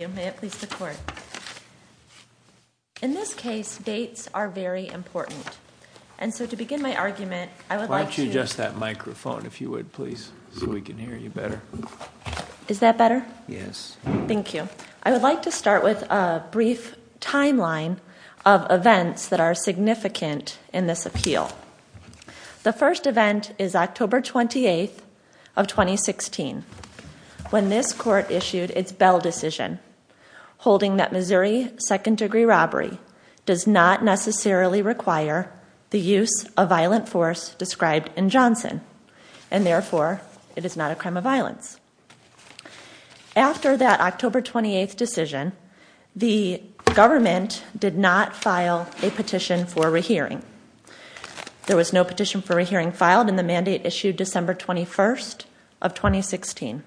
In this case, dates are very important. microphone if you would, please, so we can hear you better. timeline of events that are significant in this appeal. The first event is October 28th of 2016, when this court issued its Bell decision, holding that Missouri second-degree robbery does not necessarily require the use of violent force described in Johnson, and therefore, it is not a crime of violence. After that October 28th decision, the government did not file a petition for rehearing. There was no petition for rehearing filed, and the mandate issued December 21st of 2016.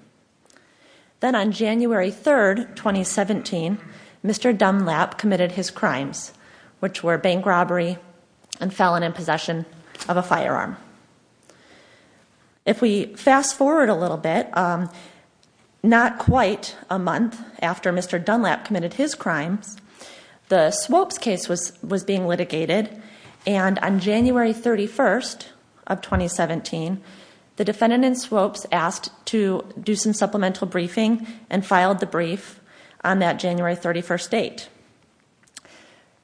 Then on January 3rd, 2017, Mr. Dunlap committed his crimes, which were bank robbery and felon in possession of a firearm. If we fast forward a little bit, not quite a month after Mr. Dunlap committed his crimes, the Swopes case was being litigated, and on January 31st of 2017, the defendant in Swopes asked to do some supplemental briefing and filed the brief on that January 31st date.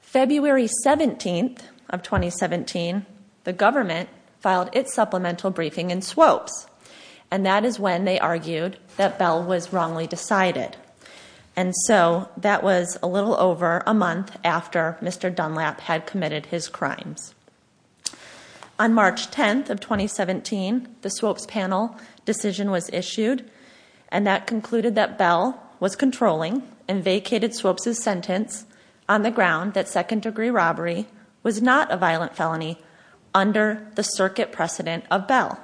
February 17th of 2017, the government filed its supplemental briefing in Swopes, and that is when they argued that Bell was wrongly decided. And so, that was a little over a month after Mr. Dunlap had committed his crimes. On March 10th of 2017, the Swopes panel decision was issued, and that concluded that Bell was controlling and vacated Swopes' sentence on the ground that second-degree robbery was not a violent felony under the circuit precedent of Bell.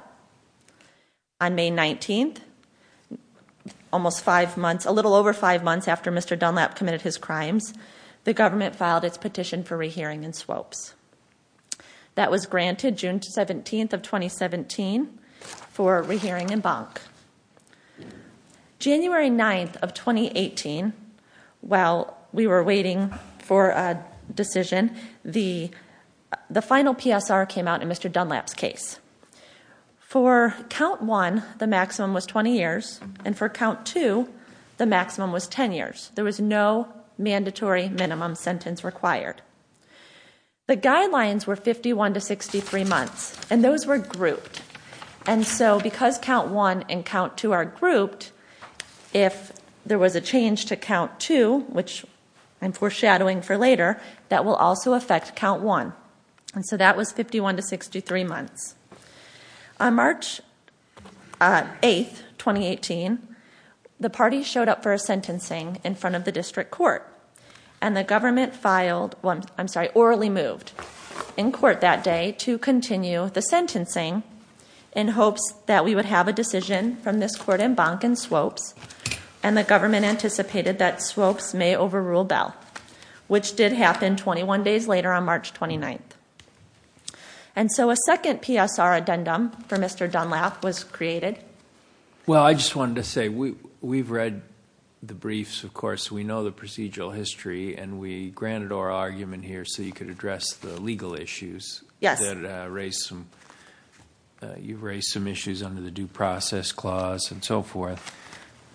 On May 19th, a little over five months after Mr. Dunlap committed his crimes, the government filed its petition for rehearing in Swopes. That was granted June 17th of 2017 for rehearing in Bonk. January 9th of 2018, while we were waiting for a decision, the final PSR came out in Mr. Dunlap's case. For count one, the maximum was 20 years, and for count two, the maximum was 10 years. There was no mandatory minimum sentence required. The guidelines were 51 to 63 months, and those were grouped. And so, because count one and count two are grouped, if there was a change to count two, which I'm foreshadowing for later, that will also affect count one. So that was 51 to 63 months. On March 8th, 2018, the party showed up for a sentencing in front of the district court, and the government orally moved in court that day to continue the sentencing in hopes that we would have a decision from this court in Bonk and Swopes, and the government anticipated that Swopes may overrule Bell, which did happen 21 days later on March 29th. And so, a second PSR addendum for Mr. Dunlap was created. Well, I just wanted to say, we've read the briefs, of course. We know the procedural history, and we granted our argument here so you could address the legal issues that raised some issues under the due process clause and so forth.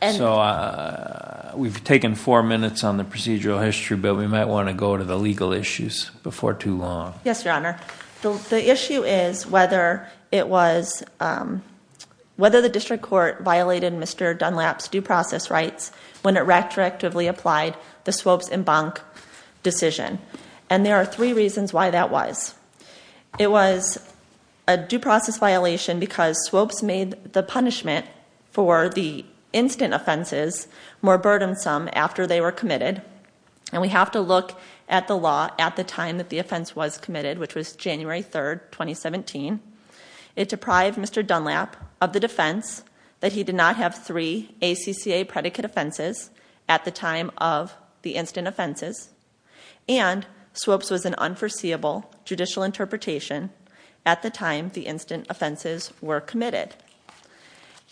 So we've taken four minutes on the procedural history, but we might want to go to the legal issues before too long. Yes, Your Honor. The issue is whether it was, whether the district court violated Mr. Dunlap's due process rights when it retroactively applied the Swopes and Bonk decision. And there are three reasons why that was. It was a due process violation because Swopes made the punishment for the instant offenses more burdensome after they were committed. And we have to look at the law at the time that the offense was committed, which was January 3rd, 2017. It deprived Mr. Dunlap of the defense that he did not have three ACCA predicate offenses at the time of the instant offenses. And Swopes was an unforeseeable judicial interpretation at the time the instant offenses were committed.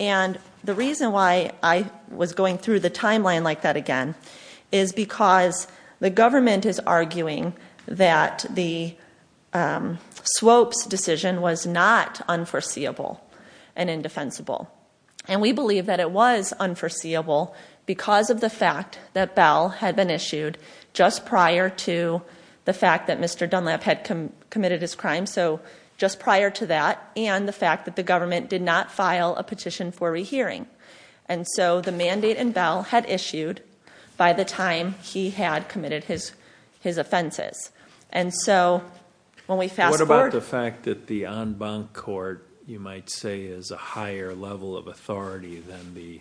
And the reason why I was going through the timeline like that again is because the government is arguing that the Swopes decision was not unforeseeable and indefensible. And we believe that it was unforeseeable because of the fact that Bell had been issued just prior to the fact that Mr. Dunlap had committed his crime. So just prior to that, and the fact that the government did not file a petition for rehearing. And so the mandate in Bell had issued by the time he had committed his offenses. And so when we fast forward- What about the fact that the en banc court, you might say, is a higher level of authority than the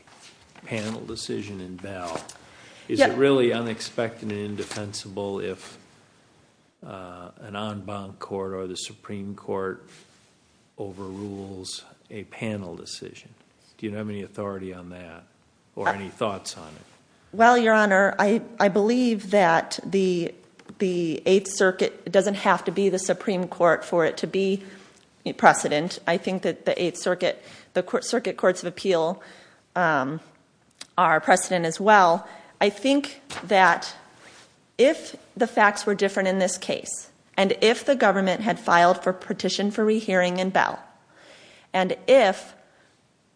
panel decision in Bell? Is it really unexpected and indefensible if an en banc court or the Supreme Court overrules a panel decision? Do you have any authority on that, or any thoughts on it? Well, Your Honor, I believe that the Eighth Circuit doesn't have to be the Supreme Court for it to be precedent. I think that the Eighth Circuit, the Circuit Courts of Appeal are precedent as well. I think that if the facts were different in this case, and if the government had filed for petition for rehearing in Bell, and if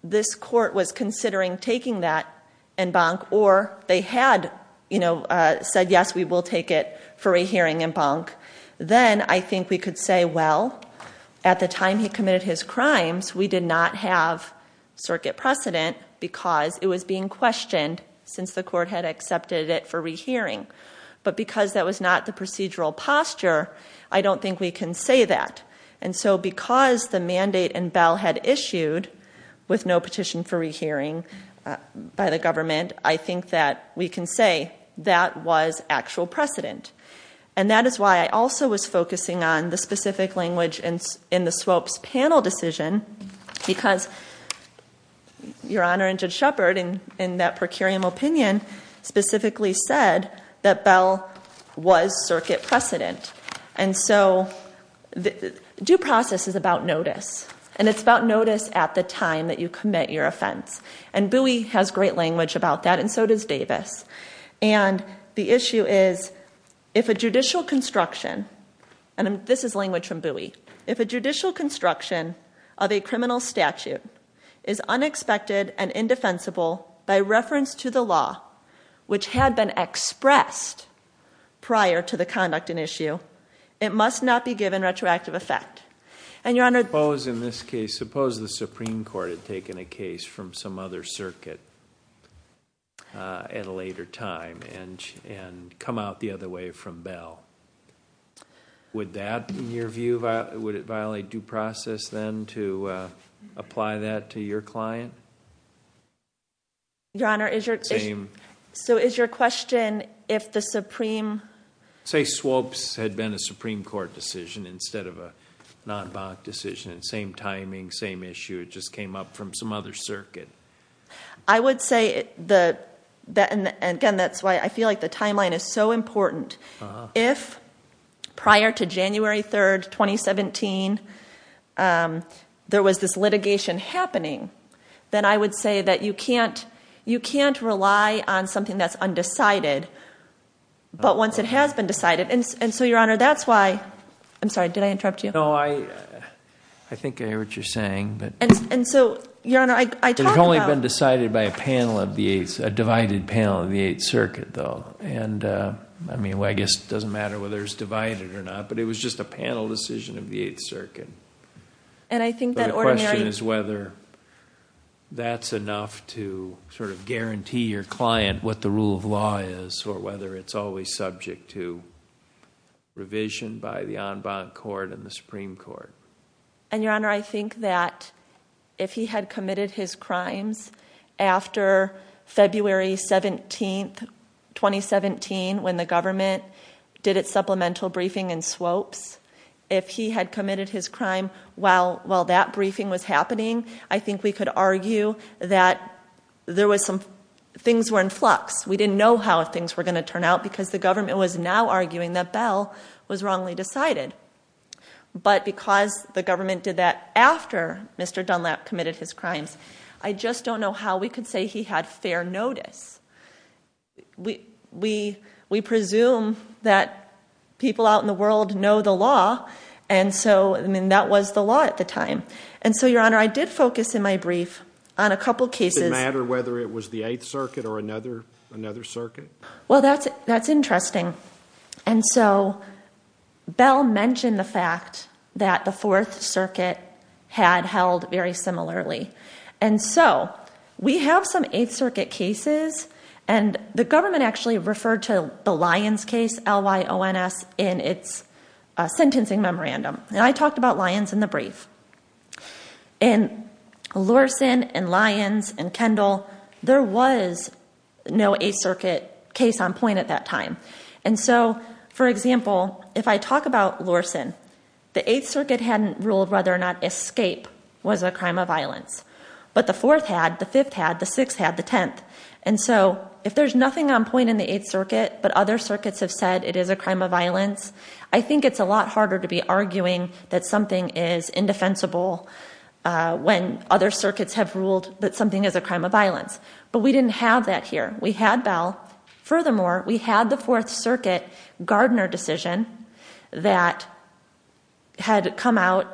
this court was considering taking that en banc, or they had said, yes, we will take it for rehearing en banc. Then I think we could say, well, at the time he committed his crimes, we did not have circuit precedent because it was being questioned since the court had accepted it for rehearing. But because that was not the procedural posture, I don't think we can say that. And so because the mandate in Bell had issued with no petition for rehearing by the government, I think that we can say that was actual precedent. And that is why I also was focusing on the specific language in the Swoap's panel decision, because Your Honor and Judge Shepard, in that per curiam opinion, specifically said that Bell was circuit precedent. And so due process is about notice, and it's about notice at the time that you commit your offense. And Bowie has great language about that, and so does Davis. And the issue is, if a judicial construction, and this is language from Bowie, if a judicial construction of a criminal statute is unexpected and indefensible by reference to the law which had been expressed prior to the conduct and issue, it must not be given retroactive effect. And Your Honor- Suppose in this case, suppose the Supreme Court had taken a case from some other circuit at a later time and come out the other way from Bell. Would that, in your view, would it violate due process then to apply that to your client? Your Honor, is your- Same. So is your question, if the Supreme- Say Swoap's had been a Supreme Court decision instead of a non-bank decision, same timing, same issue, it just came up from some other circuit. I would say, and again, that's why I feel like the timeline is so important. If prior to January 3rd, 2017, there was this litigation happening, then I would say that you can't rely on something that's undecided. But once it has been decided, and so Your Honor, that's why, I'm sorry, did I interrupt you? No, I think I hear what you're saying, but- And so, Your Honor, I talked about- It's only been decided by a panel of the eighths, a divided panel of the eighth circuit, though. And I mean, I guess it doesn't matter whether it's divided or not, but it was just a panel decision of the eighth circuit. And I think that ordinary- But the question is whether that's enough to sort of guarantee your client what the rule of law is, or whether it's always subject to revision by the en banc court and the Supreme Court. And Your Honor, I think that if he had committed his crimes after February 17th, 2017, when the government did its supplemental briefing in swopes, if he had committed his crime while that briefing was happening, I think we could argue that things were in flux. We didn't know how things were going to turn out, because the government was now arguing that Bell was wrongly decided. But because the government did that after Mr. Dunlap committed his crimes, I just don't know how we could say he had fair notice. We presume that people out in the world know the law, and so, I mean, that was the law at the time. And so, Your Honor, I did focus in my brief on a couple cases- I'm not sure whether it was the Eighth Circuit or another circuit. Well, that's interesting. And so, Bell mentioned the fact that the Fourth Circuit had held very similarly. And so, we have some Eighth Circuit cases, and the government actually referred to the Lyons case, L-Y-O-N-S, in its sentencing memorandum. And I talked about Lyons in the brief. In Lorsan and Lyons and Kendall, there was no Eighth Circuit case on point at that time. And so, for example, if I talk about Lorsan, the Eighth Circuit hadn't ruled whether or not escape was a crime of violence. But the Fourth had, the Fifth had, the Sixth had, the Tenth. And so, if there's nothing on point in the Eighth Circuit, but other circuits have said it is a crime of violence, I think it's a lot harder to be arguing that something is indefensible when other circuits have ruled that something is a crime of violence. But we didn't have that here. We had Bell. Furthermore, we had the Fourth Circuit Gardner decision that had come out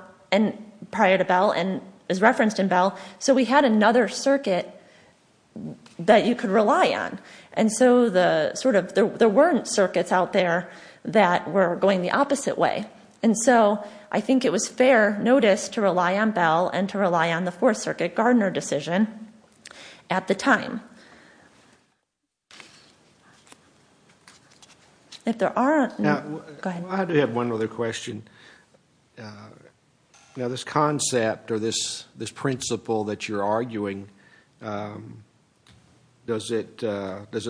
prior to Bell and is referenced in Bell. So we had another circuit that you could rely on. And so, the sort of, there weren't circuits out there that were going the opposite way. And so, I think it was fair notice to rely on Bell and to rely on the Fourth Circuit Gardner decision at the time. If there aren't, go ahead. I do have one other question. Now, this concept or this principle that you're arguing, does it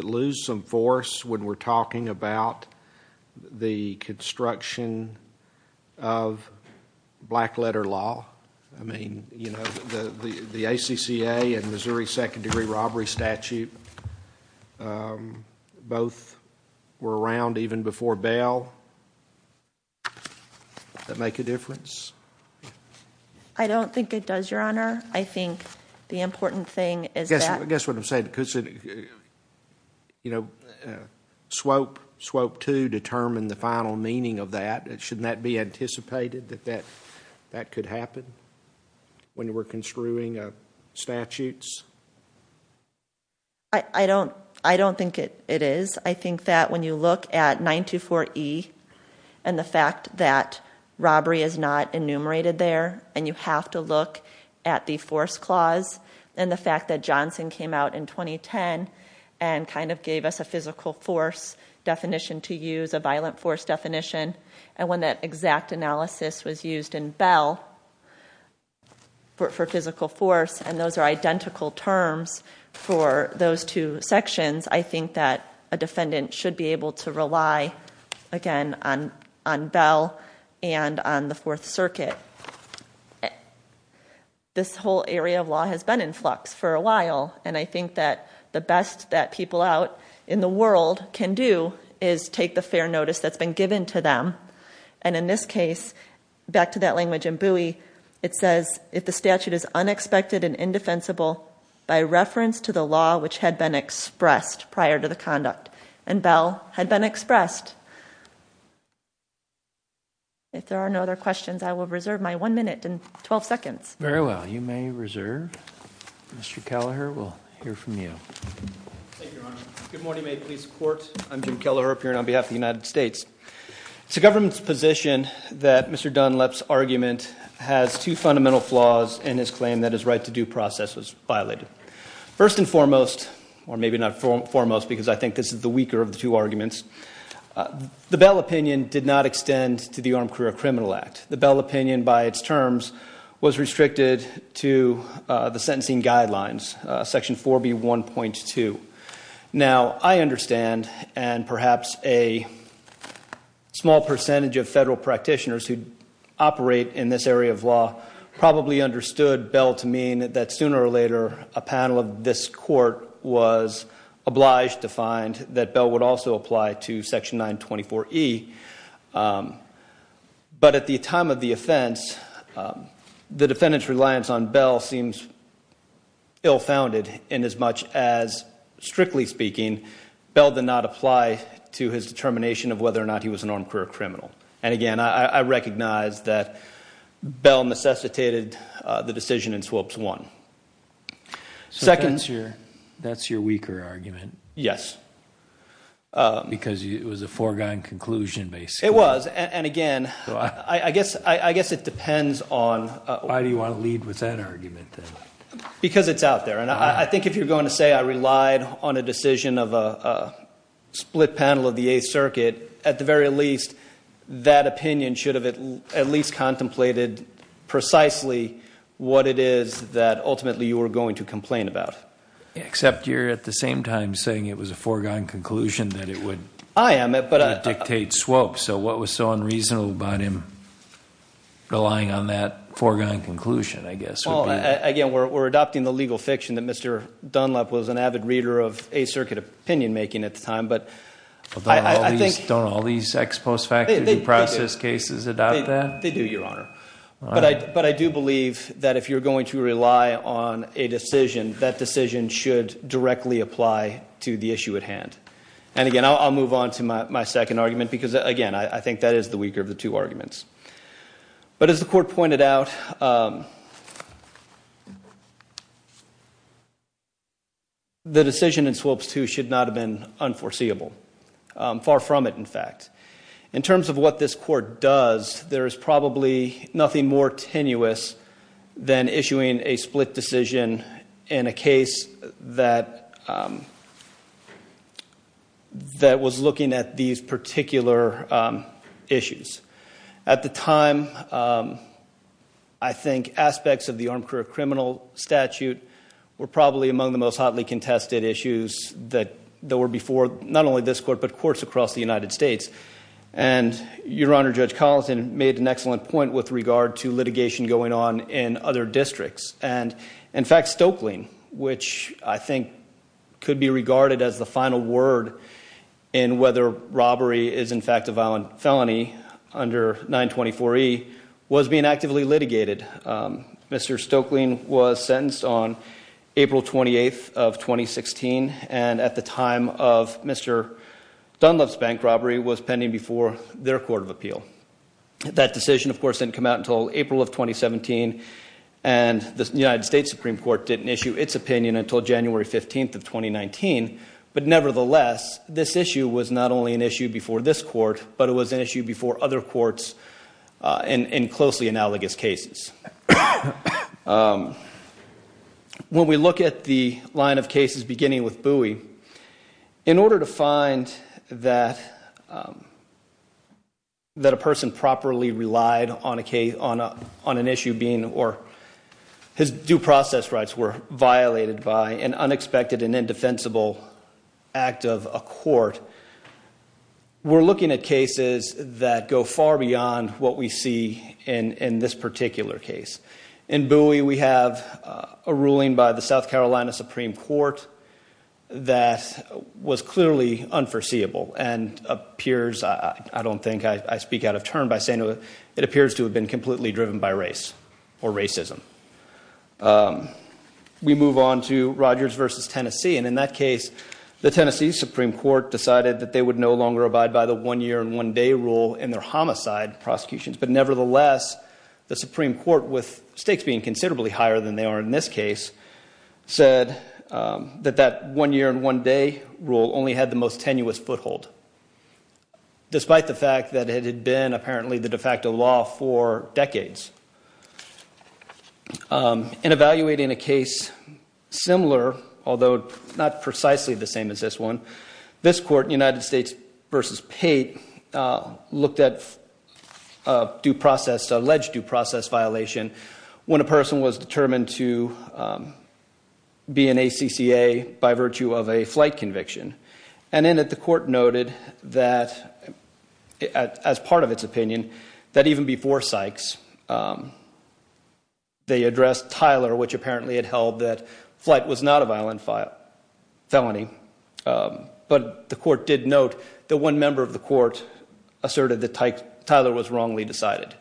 lose some force when we're talking about the construction of black letter law? I mean, you know, the ACCA and Missouri Second Degree Robbery Statute, both were around even before Bell. That make a difference? I think the important thing is that- Guess what I'm saying, because, you know, Swope 2 determined the final meaning of that. Shouldn't that be anticipated, that that could happen when we're construing statutes? I don't think it is. I think that when you look at 924E and the fact that robbery is not enumerated there, and you have to look at the force clause, and the fact that Johnson came out in 2010 and kind of gave us a physical force definition to use, a violent force definition, and when that exact analysis was used in Bell for physical force, and those are identical terms for those two sections, I think that a defendant should be able to rely, again, on Bell and on the Fourth Circuit. This whole area of law has been in flux for a while, and I think that the best that people out in the world can do is take the fair notice that's been given to them, and in this case, back to that language in Bowie, it says, if the statute is unexpected and indefensible by reference to the law which had been expressed prior to the conduct, and Bell had been expressed. If there are no other questions, I will reserve my one minute and 12 seconds. Very well. You may reserve. Mr. Kelleher, we'll hear from you. Thank you, Your Honor. Good morning, Maid Police Court. I'm Jim Kelleher, appearing on behalf of the United States. It's the government's position that Mr. Dunlap's argument has two fundamental flaws and his claim that his right to due process was violated. First and foremost, or maybe not foremost because I think this is the weaker of the two arguments, the Bell opinion did not extend to the Armed Career Criminal Act. The Bell opinion, by its terms, was restricted to the sentencing guidelines, section 4B1.2. Now, I understand, and perhaps a small percentage of federal practitioners who operate in this area of law probably understood Bell to mean that sooner or later a panel of this court was obliged to find that Bell would also apply to section 924E. But at the time of the offense, the defendant's reliance on Bell seems ill-founded in as much as, strictly speaking, Bell did not apply to his determination of whether or not he was an armed career criminal. And again, I recognize that Bell necessitated the decision in SWOPS 1. So that's your weaker argument? Yes. Because it was a foregone conclusion, basically? It was, and again, I guess it depends on— Why do you want to lead with that argument, then? Because it's out there. And I think if you're going to say I relied on a decision of a split panel of the Eighth Circuit, at the very least, that opinion should have at least contemplated precisely what it is that ultimately you were going to complain about. Except you're at the same time saying it was a foregone conclusion that it would dictate SWOPS. So what was so unreasonable about him relying on that foregone conclusion, I guess, would be— Well, again, we're adopting the legal fiction that Mr. Dunlap was an avid reader of Eighth Circuit opinion-making at the time. Don't all these ex post facto due process cases adopt that? They do, Your Honor. But I do believe that if you're going to rely on a decision, that decision should directly apply to the issue at hand. And again, I'll move on to my second argument because, again, I think that is the weaker of the two arguments. But as the Court pointed out, the decision in SWOPS 2 should not have been unforeseeable. Far from it, in fact. In terms of what this Court does, there is probably nothing more tenuous than issuing a split decision in a case that was looking at these particular issues. At the time, I think aspects of the armed career criminal statute were probably among the most hotly contested issues that were before not only this Court but courts across the United States. And Your Honor, Judge Colleton made an excellent point with regard to litigation going on in other districts. And, in fact, Stokeling, which I think could be regarded as the final word in whether robbery is, in fact, a violent felony under 924E, was being actively litigated. Mr. Stokeling was sentenced on April 28th of 2016. And at the time of Mr. Dunlop's bank robbery was pending before their Court of Appeal. That decision, of course, didn't come out until April of 2017. And the United States Supreme Court didn't issue its opinion until January 15th of 2019. But, nevertheless, this issue was not only an issue before this Court, but it was an issue before other courts in closely analogous cases. When we look at the line of cases beginning with Bowie, in order to find that a person properly relied on an issue being, or his due process rights were violated by an unexpected and indefensible act of a court, we're looking at cases that go far beyond what we see in this particular case. In Bowie, we have a ruling by the South Carolina Supreme Court that was clearly unforeseeable and appears, I don't think I speak out of turn by saying it, it appears to have been completely driven by race or racism. We move on to Rogers v. Tennessee, and in that case, the Tennessee Supreme Court decided that they would no longer abide by the one-year-and-one-day rule in their homicide prosecutions. But, nevertheless, the Supreme Court, with stakes being considerably higher than they are in this case, said that that one-year-and-one-day rule only had the most tenuous foothold, despite the fact that it had been apparently the de facto law for decades. In evaluating a case similar, although not precisely the same as this one, this court, United States v. Pate, looked at alleged due process violation when a person was determined to be an ACCA by virtue of a flight conviction. And in it, the court noted that, as part of its opinion, that even before Sykes, they addressed Tyler, which apparently had held that flight was not a violent felony. But the court did note that one member of the court asserted that Tyler was wrongly decided.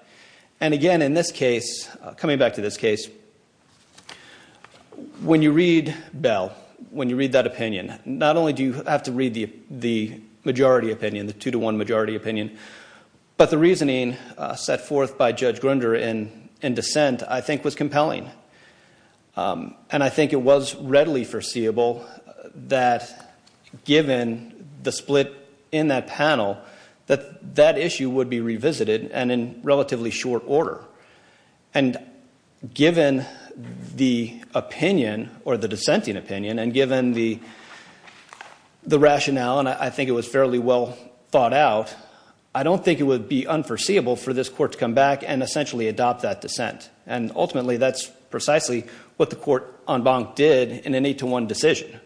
And again, in this case, coming back to this case, when you read Bell, when you read that opinion, not only do you have to read the majority opinion, the two-to-one majority opinion, but the reasoning set forth by Judge Grunder in dissent, I think, was compelling. And I think it was readily foreseeable that, given the split in that panel, that that issue would be revisited and in relatively short order. And given the opinion, or the dissenting opinion, and given the rationale, and I think it was fairly well thought out, I don't think it would be unforeseeable for this court to come back and essentially adopt that dissent. And ultimately, that's precisely what the court, en banc, did in an eight-to-one decision.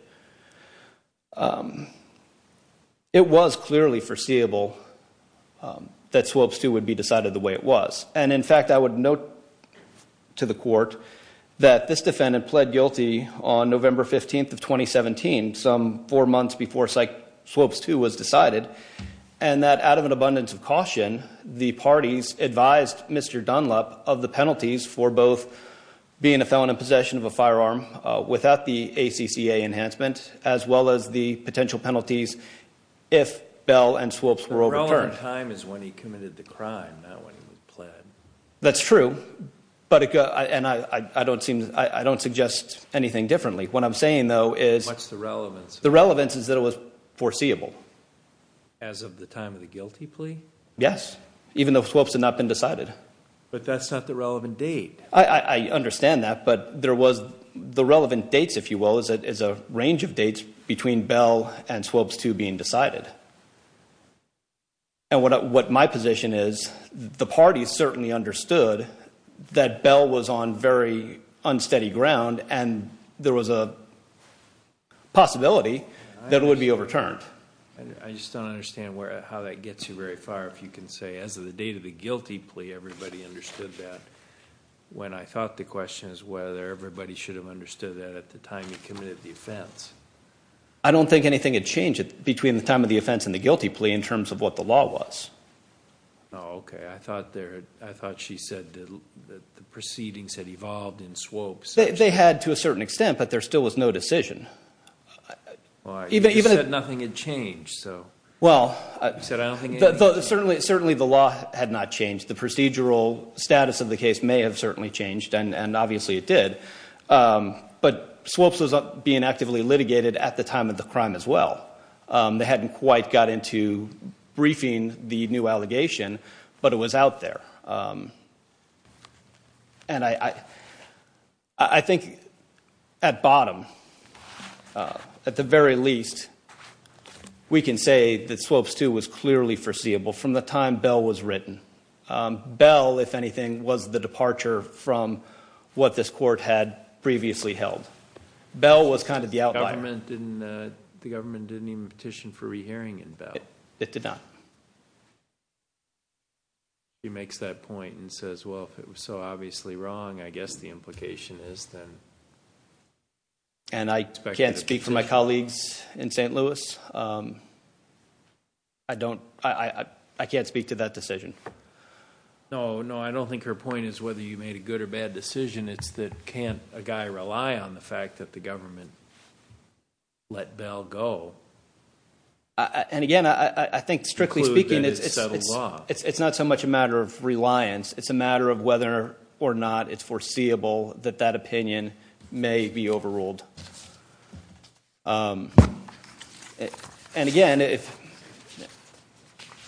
It was clearly foreseeable that Swopes II would be decided the way it was. And in fact, I would note to the court that this defendant pled guilty on November 15th of 2017, some four months before Swopes II was decided, and that out of an abundance of caution, the parties advised Mr. Dunlap of the penalties for both being a felon in possession of a firearm without the ACCA enhancement, as well as the potential penalties if Bell and Swopes were overturned. The time is when he committed the crime, not when he was pled. That's true, and I don't suggest anything differently. What I'm saying, though, is the relevance is that it was foreseeable. As of the time of the guilty plea? Yes, even though Swopes had not been decided. But that's not the relevant date. I understand that, but the relevant dates, if you will, is a range of dates between Bell and Swopes II being decided. And what my position is, the parties certainly understood that Bell was on very unsteady ground, and there was a possibility that it would be overturned. I just don't understand how that gets you very far, if you can say, as of the date of the guilty plea, everybody understood that. When I thought the question is whether everybody should have understood that at the time he committed the offense. I don't think anything had changed between the time of the offense and the guilty plea in terms of what the law was. Oh, okay. I thought she said that the proceedings had evolved in Swopes. They had to a certain extent, but there still was no decision. You said nothing had changed. Well, certainly the law had not changed. The procedural status of the case may have certainly changed, and obviously it did. But Swopes was being actively litigated at the time of the crime as well. They hadn't quite got into briefing the new allegation, but it was out there. And I think at bottom, at the very least, we can say that Swopes II was clearly foreseeable from the time Bell was written. Bell, if anything, was the departure from what this court had previously held. Bell was kind of the outlier. The government didn't even petition for rehearing in Bell. It did not. She makes that point and says, well, if it was so obviously wrong, I guess the implication is then. And I can't speak for my colleagues in St. Louis. I can't speak to that decision. No, no, I don't think her point is whether you made a good or bad decision. It's that can't a guy rely on the fact that the government let Bell go? And again, I think strictly speaking, it's not so much a matter of reliance. It's a matter of whether or not it's foreseeable that that opinion may be overruled. And again,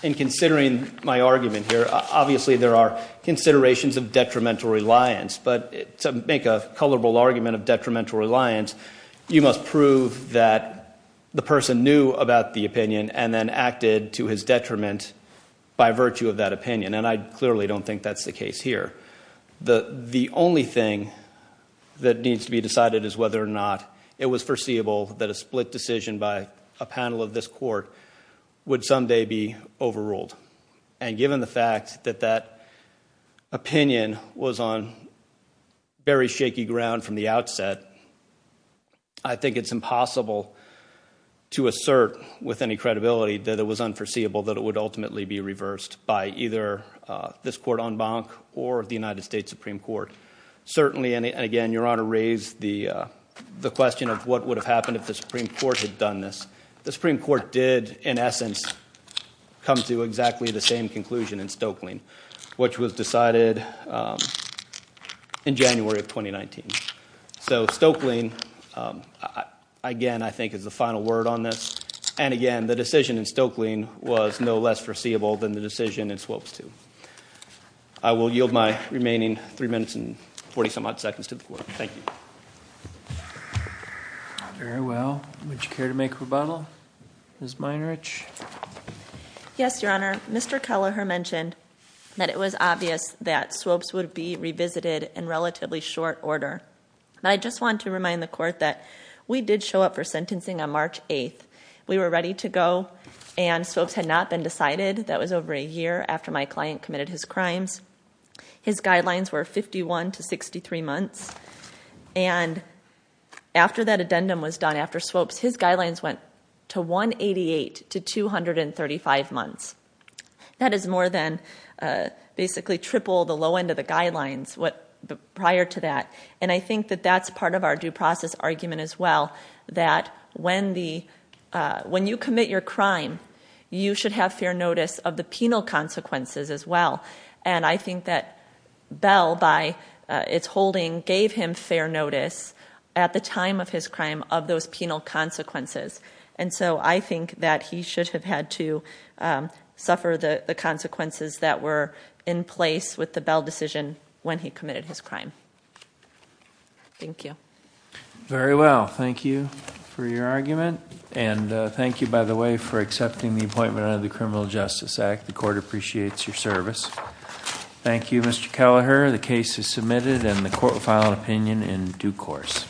in considering my argument here, obviously there are considerations of detrimental reliance, but to make a colorable argument of detrimental reliance, you must prove that the person knew about the opinion and then acted to his detriment by virtue of that opinion. And I clearly don't think that's the case here. The only thing that needs to be decided is whether or not it was foreseeable that a split decision by a panel of this court would someday be overruled. And given the fact that that opinion was on very shaky ground from the outset, I think it's impossible to assert with any credibility that it was unforeseeable that it would ultimately be reversed by either this court en banc or the United States Supreme Court. Certainly, and again, Your Honor raised the question of what would have happened if the Supreme Court had done this. The Supreme Court did, in essence, come to exactly the same conclusion in Stokelyne, which was decided in January of 2019. So Stokelyne, again, I think is the final word on this. And again, the decision in Stokelyne was no less foreseeable than the decision in Swopes II. I will yield my remaining three minutes and 40-some-odd seconds to the court. Thank you. Very well. Would you care to make rebuttal, Ms. Meinrich? Yes, Your Honor. Mr. Kelleher mentioned that it was obvious that Swopes would be revisited in relatively short order. I just want to remind the court that we did show up for sentencing on March 8th. We were ready to go, and Swopes had not been decided. That was over a year after my client committed his crimes. His guidelines were 51 to 63 months. And after that addendum was done, after Swopes, his guidelines went to 188 to 235 months. That is more than basically triple the low end of the guidelines prior to that. And I think that that's part of our due process argument as well, that when you commit your crime, you should have fair notice of the penal consequences as well. And I think that Bell, by its holding, gave him fair notice at the time of his crime of those penal consequences. And so I think that he should have had to suffer the consequences that were in place with the Bell decision when he committed his crime. Thank you. Very well. Thank you for your argument. And thank you, by the way, for accepting the appointment under the Criminal Justice Act. The court appreciates your service. Thank you, Mr. Kelleher. The case is submitted, and the court will file an opinion in due course.